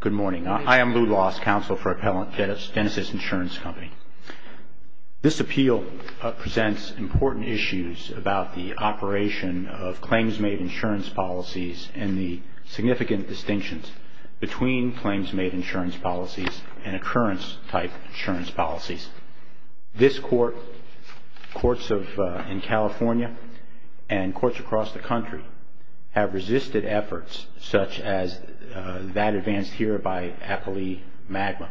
Good morning. I am Lou Loss, Counsel for Appellant Dennis' Insurance Company. This appeal presents important issues about the operation of claims-made insurance policies and the significant distinctions between claims-made insurance policies and occurrence-type insurance policies. This court, courts in California and courts across the country have resisted efforts such as that advanced here by Appellee Magma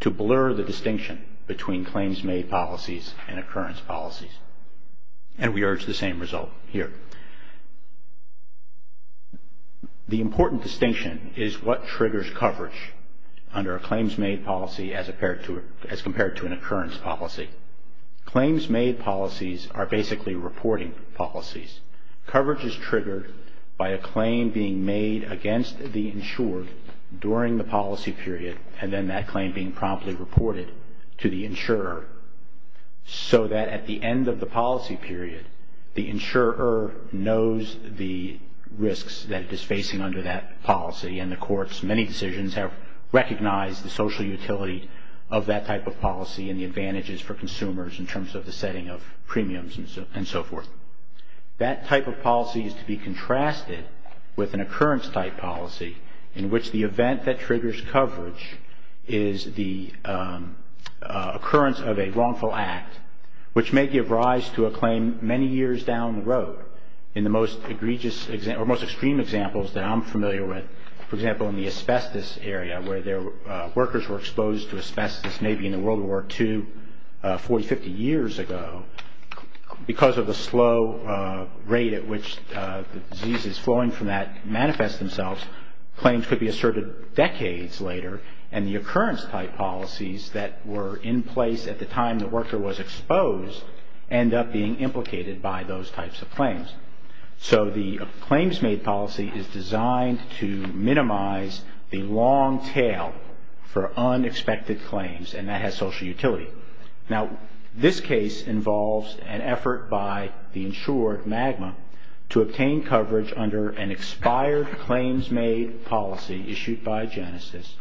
to blur the distinction between claims-made policies and occurrence policies and we urge the same result here. The important distinction is what triggers coverage under a claims-made policy as compared to an occurrence policy. Claims-made policies are basically reporting policies. Coverage is triggered by a claim being made against the insured during the policy period and then that claim being promptly reported to the insurer so that at the end of the policy period, the insurer knows the risks that it is facing under that policy and the court's many decisions have recognized the social utility of that type of policy and the advantages for consumers in terms of the setting of premiums and so forth. That type of policy is to be contrasted with an occurrence-type policy in which the event that triggers coverage is the occurrence of a wrongful act which may give rise to a claim many years down the road in the most egregious or most extreme examples that I'm familiar with. For example, in the asbestos area where workers were exposed to asbestos maybe in World War II 40, 50 years ago, because of the slow rate at which the diseases flowing from that manifest themselves, claims could be asserted decades later and the occurrence-type policies that were in place at the time the worker was exposed end up being implicated by those types of claims. So the claims-made policy is designed to minimize the long tail for unexpected claims and that has social utility. Now, this case involves an effort by the insured, MAGMA, to obtain coverage under an expired claims-made policy issued by Genesis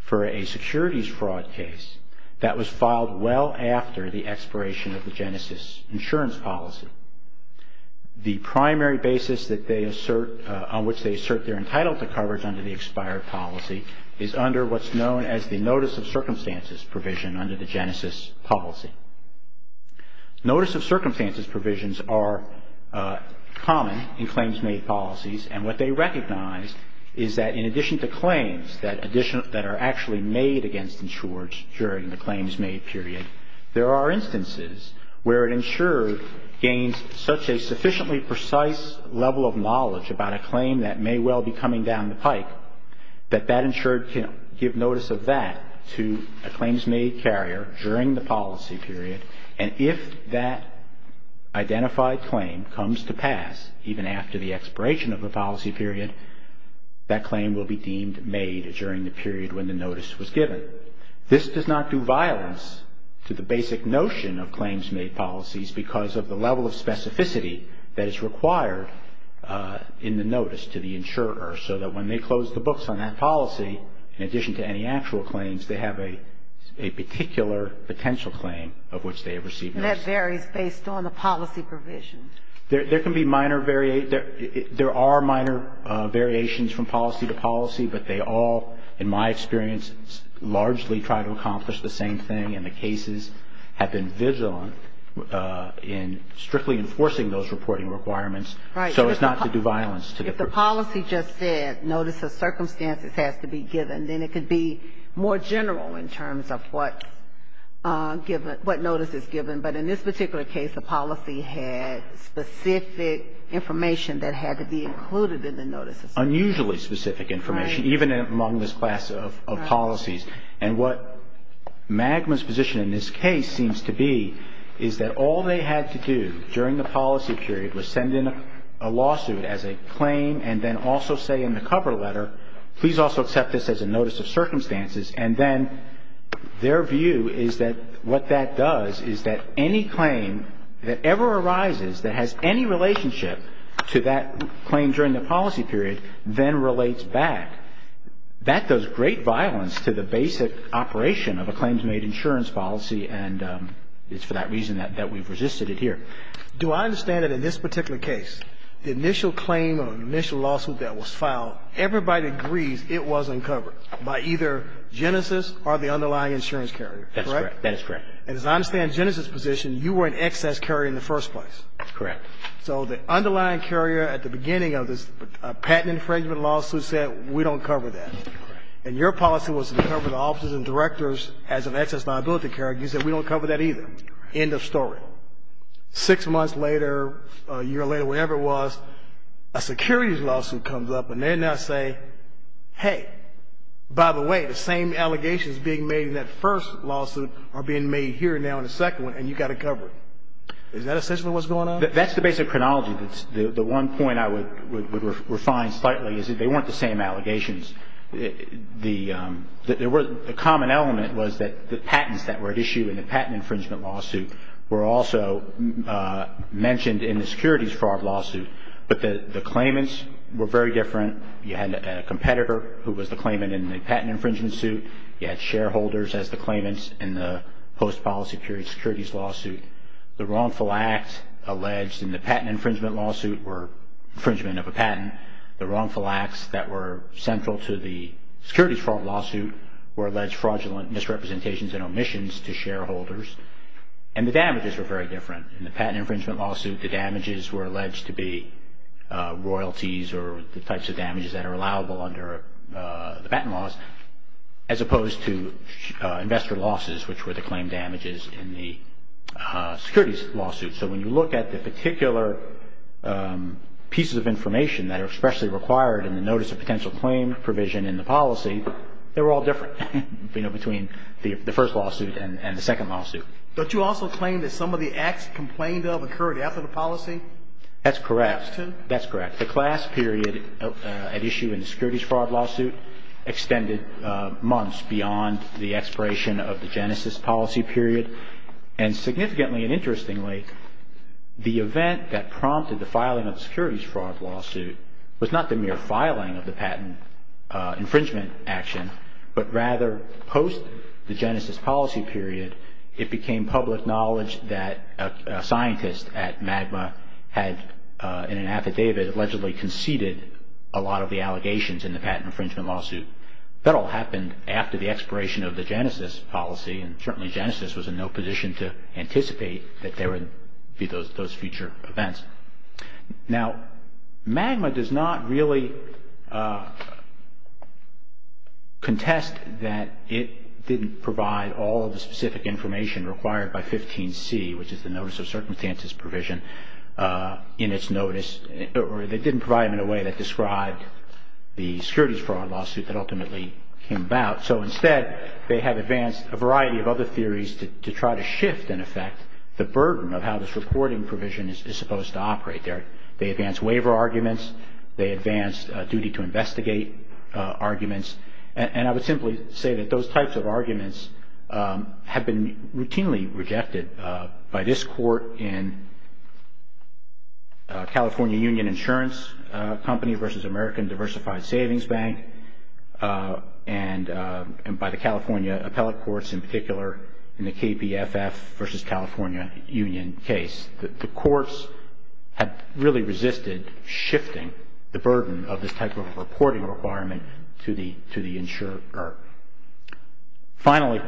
for a securities fraud case that was filed well after the expiration of the Genesis insurance policy. The primary basis on which they assert their entitlement to coverage under the expired policy is under what's known as the Notice of Circumstances provision under the Genesis policy. Notice of Circumstances provisions are common in claims-made policies and what they recognize is that in addition to claims that are actually made against insureds during the claims-made period, there are instances where an insured gains such a sufficiently precise level of notice of that to a claims-made carrier during the policy period and if that identified claim comes to pass even after the expiration of the policy period, that claim will be deemed made during the period when the notice was given. This does not do violence to the basic notion of claims-made policies because of the level of specificity that is required in the notice to the insurer so that when they close the books on that policy, in addition to any actual claims, they have a particular potential claim of which they have received notice. That varies based on the policy provision. There can be minor variations. There are minor variations from policy to policy, but they all, in my experience, largely try to accomplish the same thing and the cases have been vigilant in strictly enforcing those reporting requirements so as not to do violence to the provision. If the policy just said notice of circumstances has to be given, then it could be more general in terms of what notice is given. But in this particular case, the policy had specific information that had to be included in the notice of circumstances. Unusually specific information, even among this class of policies. And what MAGMA's position in this case seems to be is that all they had to do during the policy period was send in a lawsuit as a claim and then also say in the cover letter, please also accept this as a notice of circumstances, and then their view is that what that does is that any claim that ever arises that has any relationship to that claim during the policy period then relates back. That does great violence to the basic operation of a claims-made insurance policy and it's for that reason that we've resisted it here. Do I understand that in this particular case, the initial claim or initial lawsuit that was filed, everybody agrees it was uncovered by either Genesis or the underlying insurance carrier, correct? That's correct. And as I understand Genesis' position, you were an excess carrier in the first place. Correct. So the underlying carrier at the beginning of this patent infringement lawsuit said we don't cover that. Correct. And your policy was to cover the officers and directors as an excess liability carrier. You said we don't cover that either. End of story. Six months later, a year later, whatever it was, a securities lawsuit comes up and they now say, hey, by the way, the same allegations being made in that first lawsuit are being made here now in the second one and you've got to cover it. Is that essentially what's going on? That's the basic chronology. The one point I would refine slightly is that they weren't the same allegations. The common element was that the patents that were at issue in the patent infringement lawsuit were also mentioned in the securities fraud lawsuit, but the claimants were very different. You had a competitor who was the claimant in the patent infringement suit. You had shareholders as the claimants in the post policy securities lawsuit. The wrongful acts alleged in the patent infringement lawsuit were infringement of a patent. The wrongful acts that were central to the securities fraud lawsuit were alleged fraudulent misrepresentations and omissions to shareholders and the damages were very different. In the patent infringement lawsuit, the damages were alleged to be royalties or the types of damages that are allowable under the patent laws as opposed to investor losses, which were the claim damages in the securities lawsuit. So when you look at the particular pieces of information that are especially required in the notice of potential claim provision in the policy, they were all different, you know, between the first lawsuit and the second lawsuit. Don't you also claim that some of the acts complained of occurred after the policy? That's correct. That's correct. The class period at issue in the securities fraud lawsuit extended months beyond the expiration of the genesis policy period. And significantly and interestingly, the event that prompted the filing of the securities fraud lawsuit was not the mere filing of the patent infringement action, but rather post the genesis policy period, it became public knowledge that a scientist at Magma had in an affidavit allegedly conceded a lot of the allegations in the patent infringement lawsuit. That all happened after the expiration of the genesis policy and certainly genesis was in no position to anticipate that there would be those future events. Now, Magma does not really contest that it didn't provide all of the specific information required by 15C, which is the notice of circumstances provision in its notice, or they didn't provide it in a way that described the securities fraud lawsuit that ultimately came about. So instead, they have advanced a variety of other theories to try to shift, in effect, the process to operate there. They advance waiver arguments. They advance duty to investigate arguments. And I would simply say that those types of arguments have been routinely rejected by this court in California Union Insurance Company versus American Diversified Savings Bank and by the California appellate courts in particular in the KPFF versus California Union case. The courts have really resisted shifting the burden of this type of reporting requirement to the insurer. Finally,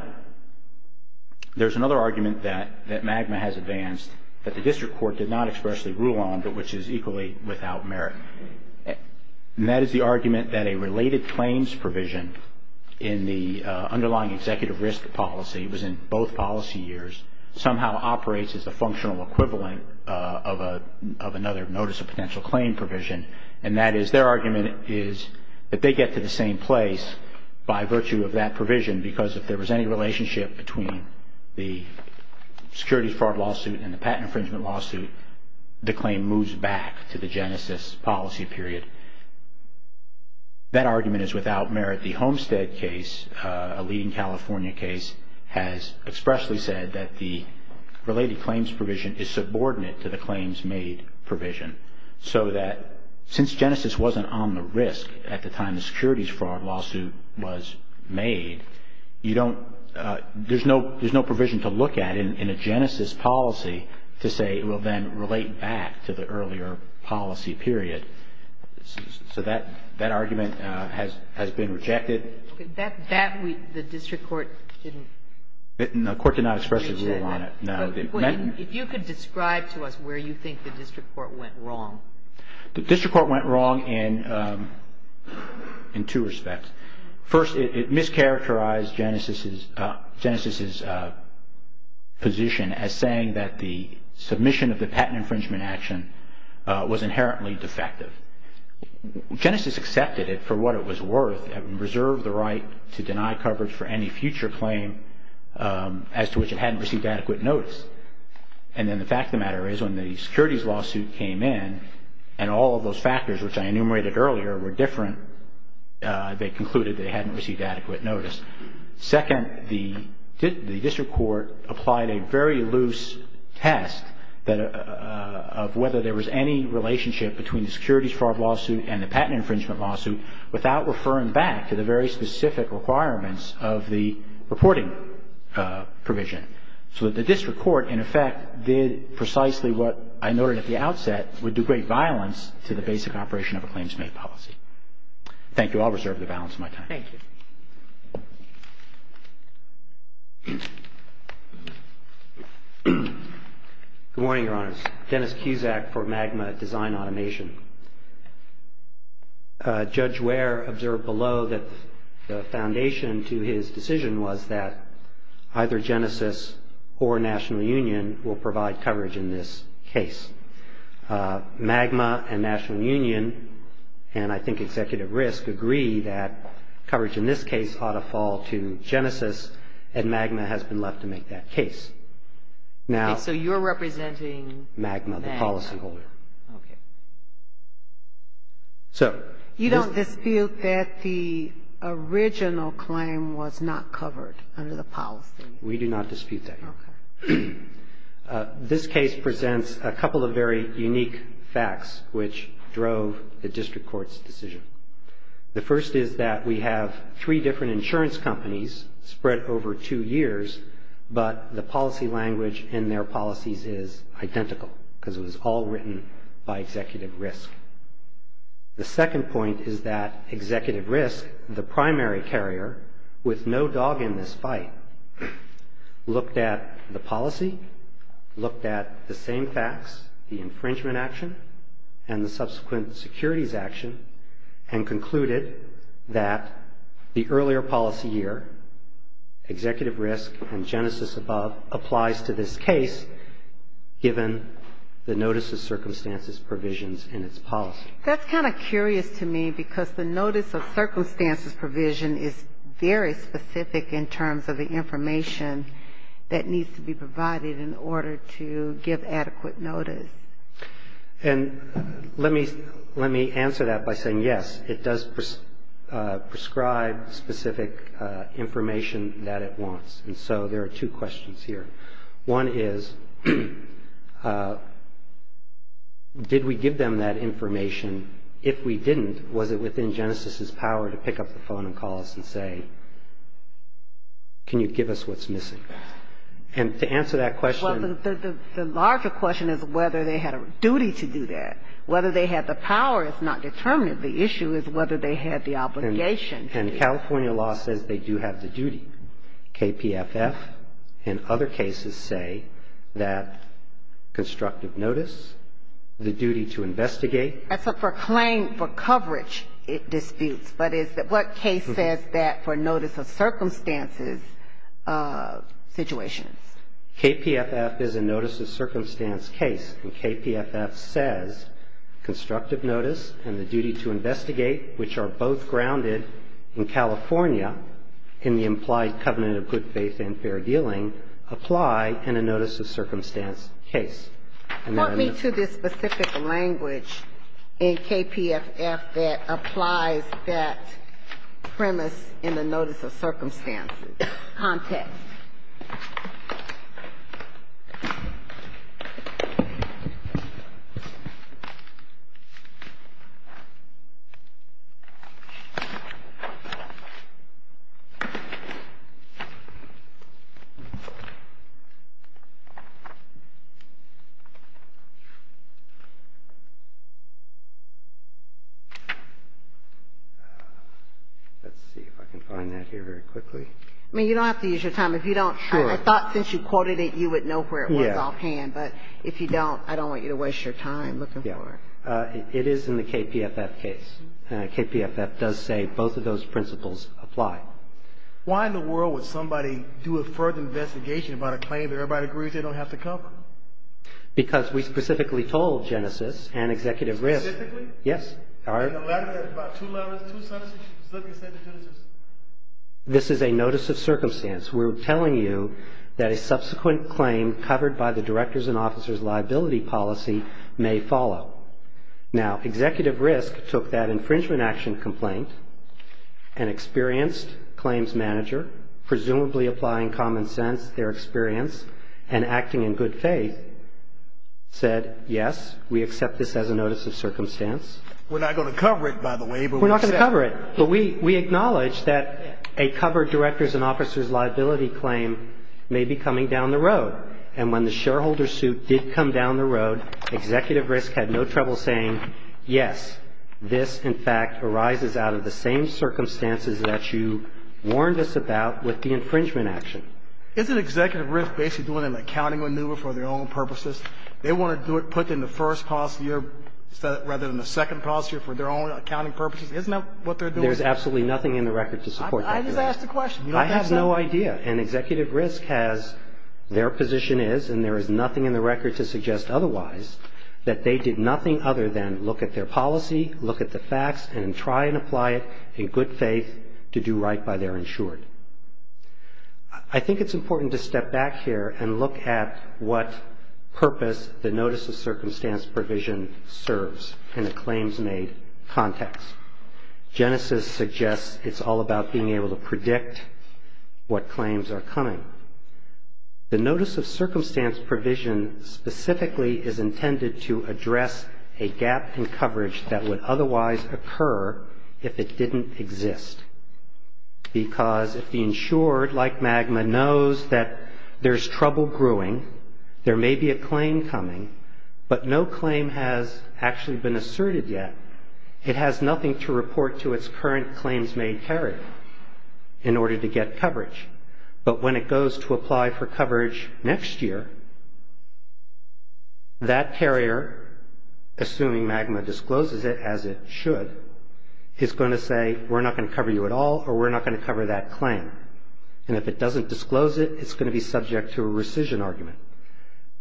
there's another argument that Magma has advanced that the district court did not expressly rule on, but which is equally without merit. And that is the argument that a related claims provision in the underlying executive risk policy, it was in both policy years, somehow operates as a functional equivalent of another notice of potential claim provision. And that is their argument is that they get to the same place by virtue of that provision because if there was any relationship between the securities fraud lawsuit and the patent infringement lawsuit, the claim moves back to the genesis policy period. That argument is without merit. The Homestead case, a leading California case, has expressly said that the related claims provision is subordinate to the claims made provision so that since genesis wasn't on the risk at the time the securities fraud lawsuit was made, you don't, there's no provision to look at in a genesis policy to say it will then relate back to the earlier policy period. So that argument has been rejected. That, the district court didn't. The court did not expressly rule on it. If you could describe to us where you think the district court went wrong. The district court went wrong in two respects. First, it mischaracterized genesis' position as saying that the submission of the patent infringement action was inherently defective. Genesis accepted it for what it was worth and reserved the right to deny coverage for any future claim as to which it hadn't received adequate notice. And then the fact of the matter is when the securities lawsuit came in and all of those factors which I enumerated earlier were different, they concluded they hadn't received adequate notice. Second, the district court applied a very loose test of whether there was any relationship between the securities fraud lawsuit and the patent infringement lawsuit without referring back to the very specific requirements of the reporting provision. So the district court, in effect, did precisely what I noted at the outset, would do great violence to the basic operation of a claims-made policy. Thank you. I'll reserve the balance of my time. Thank you. Good morning, Your Honors. Dennis Cusack for MAGMA Design Automation. Judge Ware observed below that the foundation to his decision was that either Genesis or National Union will provide coverage in this case. MAGMA and National Union, and I think Executive Risk, agree that coverage in this case ought to fall to Genesis, and MAGMA has been left to make that case. Okay. So you're representing MAGMA. MAGMA, the policyholder. Okay. You don't dispute that the original claim was not covered under the policy? We do not dispute that. Okay. This case presents a couple of very unique facts which drove the district court's decision. The first is that we have three different insurance companies spread over two years, but the policy language in their policies is identical because it was all written by Executive Risk. The second point is that Executive Risk, the primary carrier, with no dog in this fight, looked at the policy, looked at the same facts, the infringement action, and the subsequent securities action, and concluded that the earlier policy year, Executive Risk and Genesis above, applies to this case given the notice of circumstances provisions in its policy. That's kind of curious to me because the notice of circumstances provision is very specific in terms of the information that needs to be provided in order to give adequate notice. And let me answer that by saying yes, it does prescribe specific information that it wants. And so there are two questions here. One is, did we give them that information? If we didn't, was it within Genesis' power to pick up the phone and call us and say, can you give us what's missing? And to answer that question. Well, the larger question is whether they had a duty to do that. Whether they had the power is not determined. The issue is whether they had the obligation. And California law says they do have the duty. KPFF and other cases say that constructive notice, the duty to investigate. That's for claim for coverage disputes. But what case says that for notice of circumstances situations? KPFF is a notice of circumstance case. KPFF says constructive notice and the duty to investigate, which are both grounded in California in the implied covenant of good faith and fair dealing, apply in a notice of circumstance case. And then I'm not sure. language in KPFF that applies that premise in the notice of circumstances context. Let's see if I can find that here very quickly. I mean, you don't have to use your time. If you don't, I thought since you quoted it, you would know where it was offhand. But if you don't, I don't want you to waste your time looking for it. It is in the KPFF case. KPFF does say both of those principles apply. Why in the world would somebody do a further investigation about a claim that everybody agrees they don't have to cover? Because we specifically told Genesis and Executive Risk. Specifically? Yes. All right. Two levels, two substitutions. Look and say to Genesis. This is a notice of circumstance. We're telling you that a subsequent claim covered by the director's and officer's liability policy may follow. Now, Executive Risk took that infringement action complaint, an experienced claims manager, presumably applying common sense, their experience, and acting in good faith, said yes, we accept this as a notice of circumstance. We're not going to cover it, by the way. We're not going to cover it. But we acknowledge that a covered director's and officer's liability claim may be coming down the road. And when the shareholder suit did come down the road, Executive Risk had no trouble saying yes, this, in fact, arises out of the same circumstances that you warned us about with the infringement action. Isn't Executive Risk basically doing an accounting maneuver for their own purposes? They want to put in the first policy rather than the second policy for their own accounting purposes. Isn't that what they're doing? There's absolutely nothing in the record to support that. I just asked the question. You don't have that? I have no idea. And Executive Risk has their position is, and there is nothing in the record to suggest otherwise, that they did nothing other than look at their policy, look at the facts, and try and apply it in good faith to do right by their insured. I think it's important to step back here and look at what purpose the notice of circumstance provision serves in a claims-made context. Genesis suggests it's all about being able to predict what claims are coming. The notice of circumstance provision specifically is intended to address a gap in coverage that would otherwise occur if it didn't exist, because if the insured, like MAGMA, knows that there's trouble growing, there may be a claim coming, but no claim has actually been asserted yet, it has nothing to report to its current claims-made carrier in order to get coverage. But when it goes to apply for coverage next year, that carrier, assuming MAGMA discloses it as it should, is going to say, we're not going to cover you at all, or we're not going to cover that claim. And if it doesn't disclose it, it's going to be subject to a rescission argument.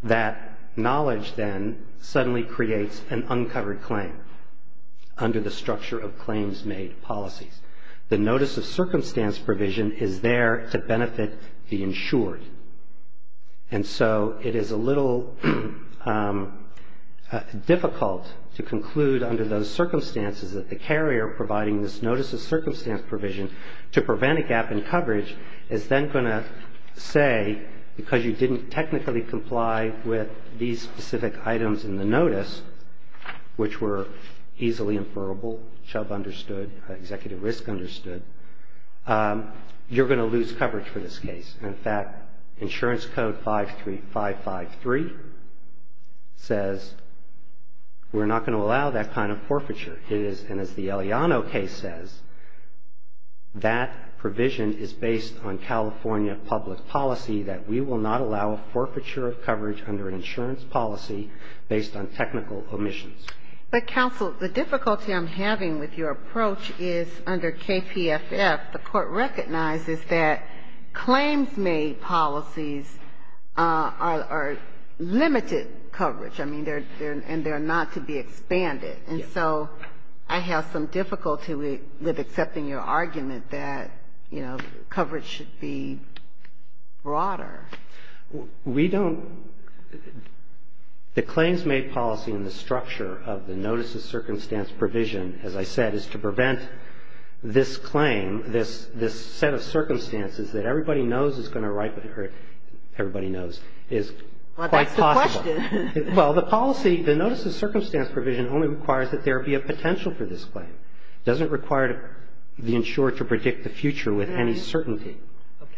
That knowledge then suddenly creates an uncovered claim under the structure of claims-made policies. The notice of circumstance provision is there to benefit the insured. And so it is a little difficult to conclude under those circumstances that the carrier providing this notice of circumstance provision to prevent a gap in coverage is then going to say, because you didn't technically comply with these specific items in the notice, which were easily inferrable, Chubb understood, Executive Risk understood, you're going to lose coverage for this case. In fact, Insurance Code 553 says we're not going to allow that kind of forfeiture. It is, and as the Eliano case says, that provision is based on California public policy that we will not allow a forfeiture of coverage under an insurance policy based on technical omissions. But, counsel, the difficulty I'm having with your approach is under KPFF, the Court recognizes that claims-made policies are limited coverage. I mean, they're not to be expanded. And so I have some difficulty with accepting your argument that, you know, coverage should be broader. We don't the claims-made policy and the structure of the notice of circumstance provision, as I said, is to prevent this claim, this set of circumstances that everybody knows is going to ripen or everybody knows is quite possible. Well, that's the question. Well, the policy, the notice of circumstance provision only requires that there be a potential for this claim. It doesn't require the insured to predict the future with any certainty.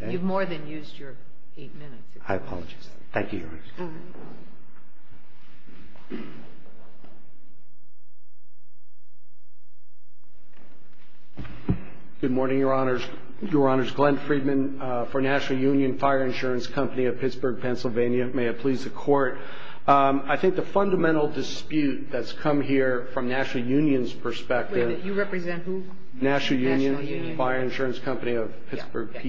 Okay. You've more than used your eight minutes. I apologize. Thank you, Your Honor. All right. Good morning, Your Honors. Your Honors. Glenn Friedman for National Union Fire Insurance Company of Pittsburgh, Pennsylvania. May it please the Court. I think the fundamental dispute that's come here from National Union's perspective Wait a minute. You represent who? National Union. National Union. Fire Insurance Company of Pittsburgh, PA.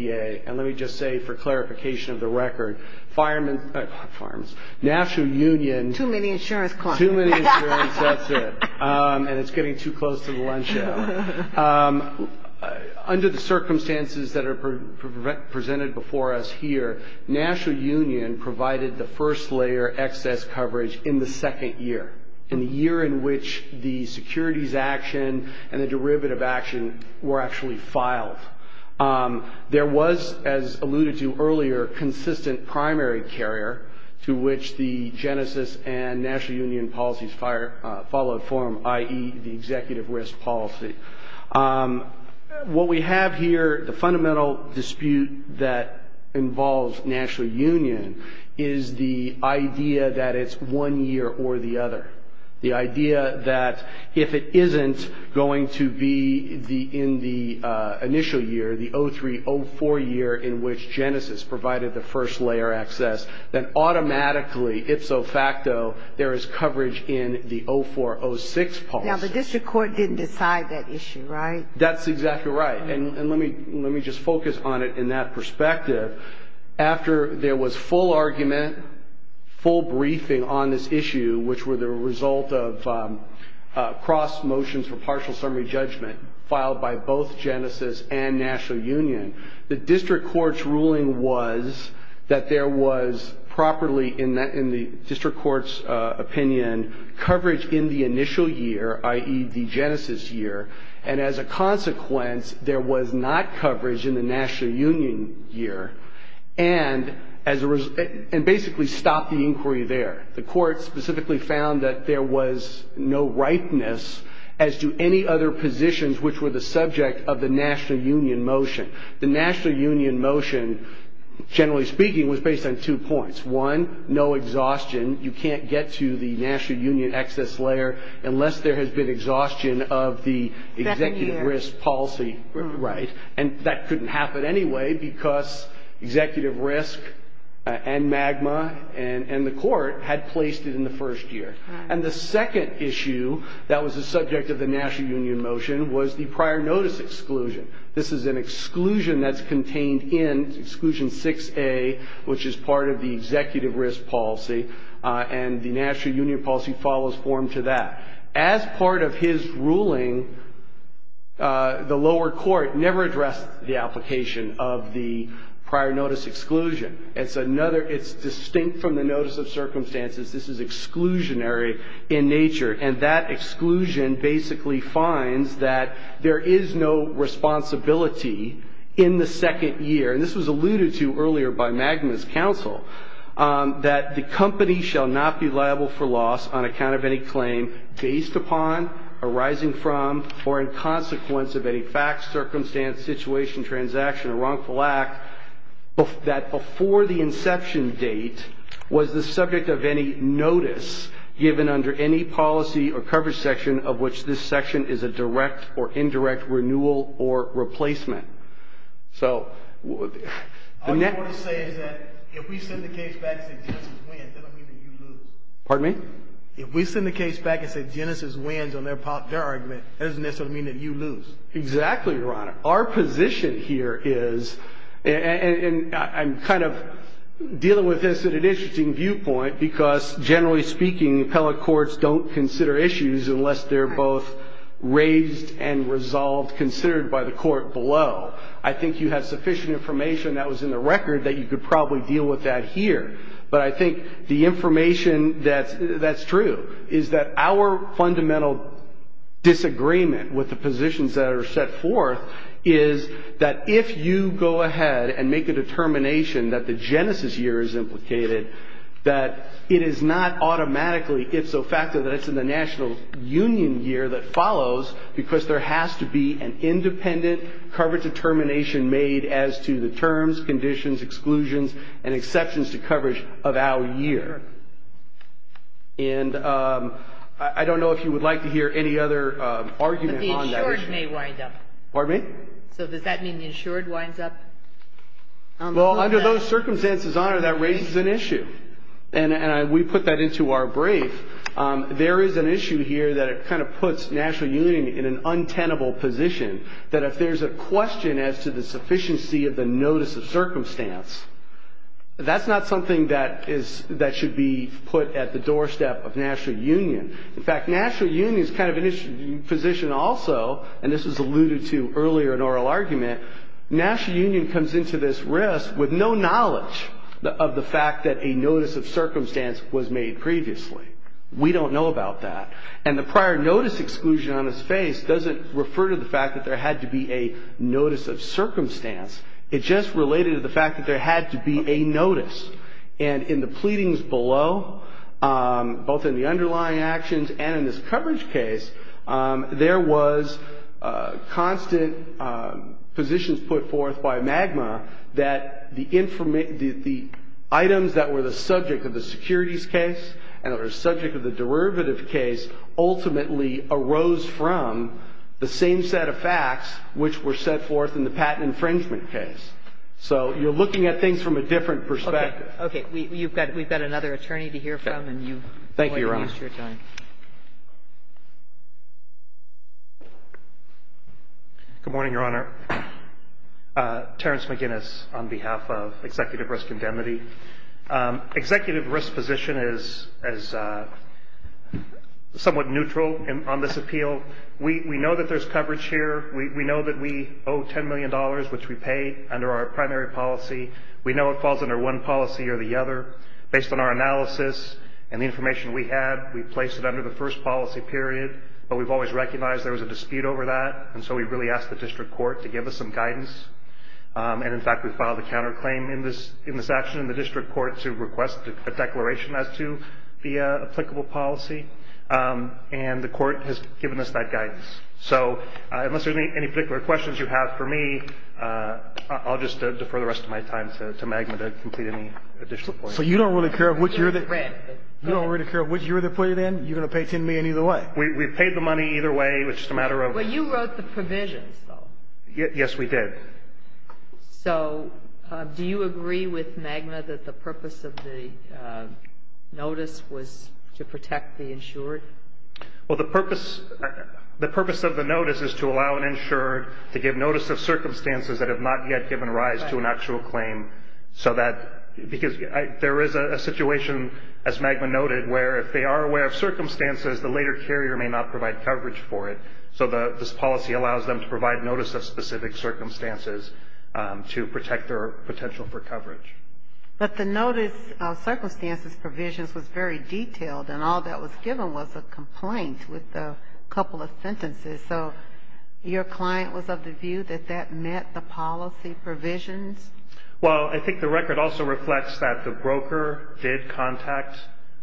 And let me just say, for clarification of the record, firemen's, not firemen's, National Union. Too many insurance companies. Too many insurance, that's it. And it's getting too close to the lunch hour. Under the circumstances that are presented before us here, National Union provided the first layer, excess coverage in the second year, in the year in which the securities action and the derivative action were actually filed. There was, as alluded to earlier, consistent primary carrier to which the Genesis and National Union policies followed form, i.e., the executive risk policy. What we have here, the fundamental dispute that involves National Union, is the idea that it's one year or the other. The idea that if it isn't going to be in the initial year, the 03-04 year, in which Genesis provided the first layer excess, then automatically, ifso facto, there is coverage in the 04-06 policy. Now, the district court didn't decide that issue, right? That's exactly right. And let me just focus on it in that perspective. After there was full argument, full briefing on this issue, which were the result of cross motions for partial summary judgment, filed by both Genesis and National Union. The district court's ruling was that there was properly, in the district court's opinion, coverage in the initial year, i.e., the Genesis year. And as a consequence, there was not coverage in the National Union year, and basically stopped the inquiry there. The court specifically found that there was no ripeness as to any other positions which were the subject of the National Union motion. The National Union motion, generally speaking, was based on two points. One, no exhaustion. You can't get to the National Union excess layer unless there has been exhaustion of the executive risk policy, right? And that couldn't happen anyway because executive risk and magma and the court had placed it in the first year. And the second issue that was the subject of the National Union motion was the prior notice exclusion. This is an exclusion that's contained in exclusion 6A, which is part of the executive risk policy. And the National Union policy follows form to that. As part of his ruling, the lower court never addressed the application of the prior notice exclusion. It's distinct from the notice of circumstances. This is exclusionary in nature. And that exclusion basically finds that there is no responsibility in the second year. And this was alluded to earlier by Magna's counsel, that the company shall not be liable for loss on account of any claim based upon, arising from, or in consequence of any facts, circumstance, situation, transaction, or wrongful act that before the inception date was the subject of any notice given under any policy or coverage section of which this section is a direct or indirect renewal or replacement. So the next... All you want to say is that if we send the case back and say Genesis wins, that doesn't mean that you lose. Pardon me? If we send the case back and say Genesis wins on their argument, that doesn't necessarily mean that you lose. Exactly, Your Honor. Our position here is, and I'm kind of dealing with this at an interesting viewpoint because generally speaking, appellate courts don't consider issues unless they're both raised and resolved, considered by the court below. I think you have sufficient information that was in the record that you could probably deal with that here. But I think the information that's true is that our fundamental disagreement with the positions that are set forth is that if you go ahead and make a determination that the Genesis year is implicated, that it is not automatically, if so factored, that it's in the national union year that follows because there has to be an independent coverage determination made as to the terms, conditions, exclusions, and exceptions to coverage of our year. And I don't know if you would like to hear any other argument on that issue. But the insured may wind up. Pardon me? So does that mean the insured winds up? Well, under those circumstances, Your Honor, that raises an issue. And we put that into our brief. There is an issue here that it kind of puts national union in an untenable position, that if there's a question as to the sufficiency of the notice of circumstance, that's not something that should be put at the doorstep of national union. In fact, national union is kind of an issue position also, and this was alluded to earlier in oral argument. National union comes into this risk with no knowledge of the fact that a notice of circumstance was made previously. We don't know about that. And the prior notice exclusion on its face doesn't refer to the fact that there had to be a notice of circumstance. It just related to the fact that there had to be a notice. And in the pleadings below, both in the underlying actions and in this coverage case, there was constant positions put forth by MAGMA that the items that were the subject of the securities case and that were the subject of the derivative case ultimately arose from the same set of facts which were set forth in the patent infringement case. So you're looking at things from a different perspective. Okay. Okay. We've got another attorney to hear from, and you're going to waste your time. Thank you, Your Honor. Good morning, Your Honor. Terrence McGinnis on behalf of Executive Risk Indemnity. Executive risk position is somewhat neutral on this appeal. We know that there's coverage here. We know that we owe $10 million, which we pay under our primary policy. We know it falls under one policy or the other. Based on our analysis and the information we have, we place it under the first policy period. But we've always recognized there was a dispute over that. And so we really asked the district court to give us some guidance. And, in fact, we filed a counterclaim in this action in the district court to request a declaration as to the applicable policy. And the court has given us that guidance. So unless there's any particular questions you have for me, I'll just defer the rest of my time to MAGMA to complete any additional questions. So you don't really care of what you're going to put it in? You're going to pay $10 million either way? We've paid the money either way. It's just a matter of. Well, you wrote the provisions, though. Yes, we did. So do you agree with MAGMA that the purpose of the notice was to protect the insured? Well, the purpose of the notice is to allow an insured to give notice of circumstances that have not yet given rise to an actual claim. Because there is a situation, as MAGMA noted, where if they are aware of circumstances, the later carrier may not provide coverage for it. So this policy allows them to provide notice of specific circumstances to protect their potential for coverage. But the notice of circumstances provisions was very detailed, and all that was given was a complaint with a couple of sentences. So your client was of the view that that met the policy provisions? Well, I think the record also reflects that the broker did contact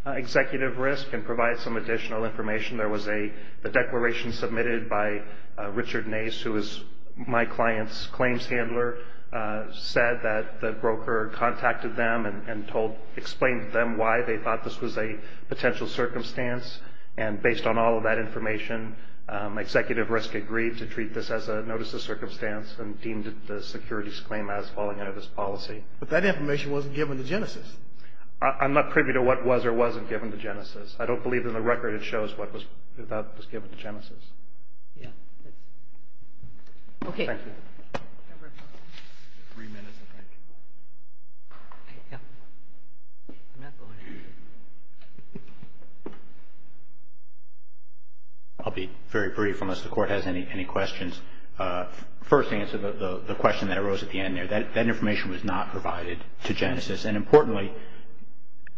Executive Risk and provide some additional information. There was a declaration submitted by Richard Nace, who is my client's claims handler, said that the broker contacted them and explained to them why they thought this was a potential circumstance. And based on all of that information, Executive Risk agreed to treat this as a notice of circumstance and deemed the securities claim as falling under this policy. But that information wasn't given to Genesis. I'm not privy to what was or wasn't given to Genesis. I don't believe in the record it shows what was given to Genesis. I'll be very brief, unless the Court has any questions. First, to answer the question that arose at the end there, that information was not provided to Genesis. And importantly,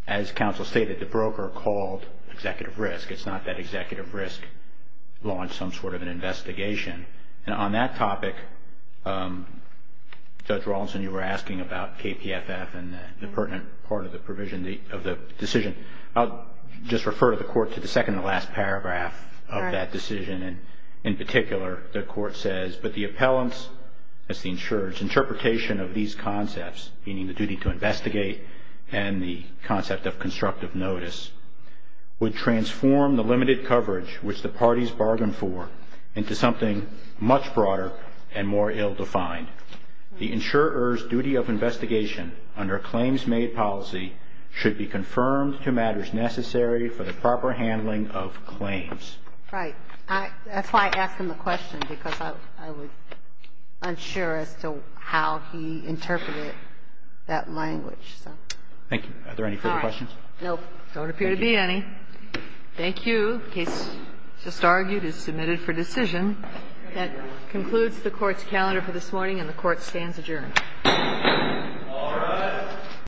as counsel stated, the broker called Executive Risk. It's not that the broker launched Genesis. And on that topic, Judge Rawlinson, you were asking about KPFF and the pertinent part of the provision of the decision. I'll just refer the Court to the second-to-last paragraph of that decision. In particular, the Court says, but the appellant's, as the insurer's, interpretation of these concepts, meaning the duty to investigate and the concept of constructive notice, would transform the limited coverage which the parties bargained for into something much broader and more ill-defined. The insurer's duty of investigation under a claims-made policy should be confirmed to matters necessary for the proper handling of claims. Right. That's why I asked him the question, because I was unsure as to how he interpreted that language. Thank you. Are there any further questions? No. There don't appear to be any. Thank you. The case just argued is submitted for decision. That concludes the Court's calendar for this morning, and the Court stands adjourned. All rise.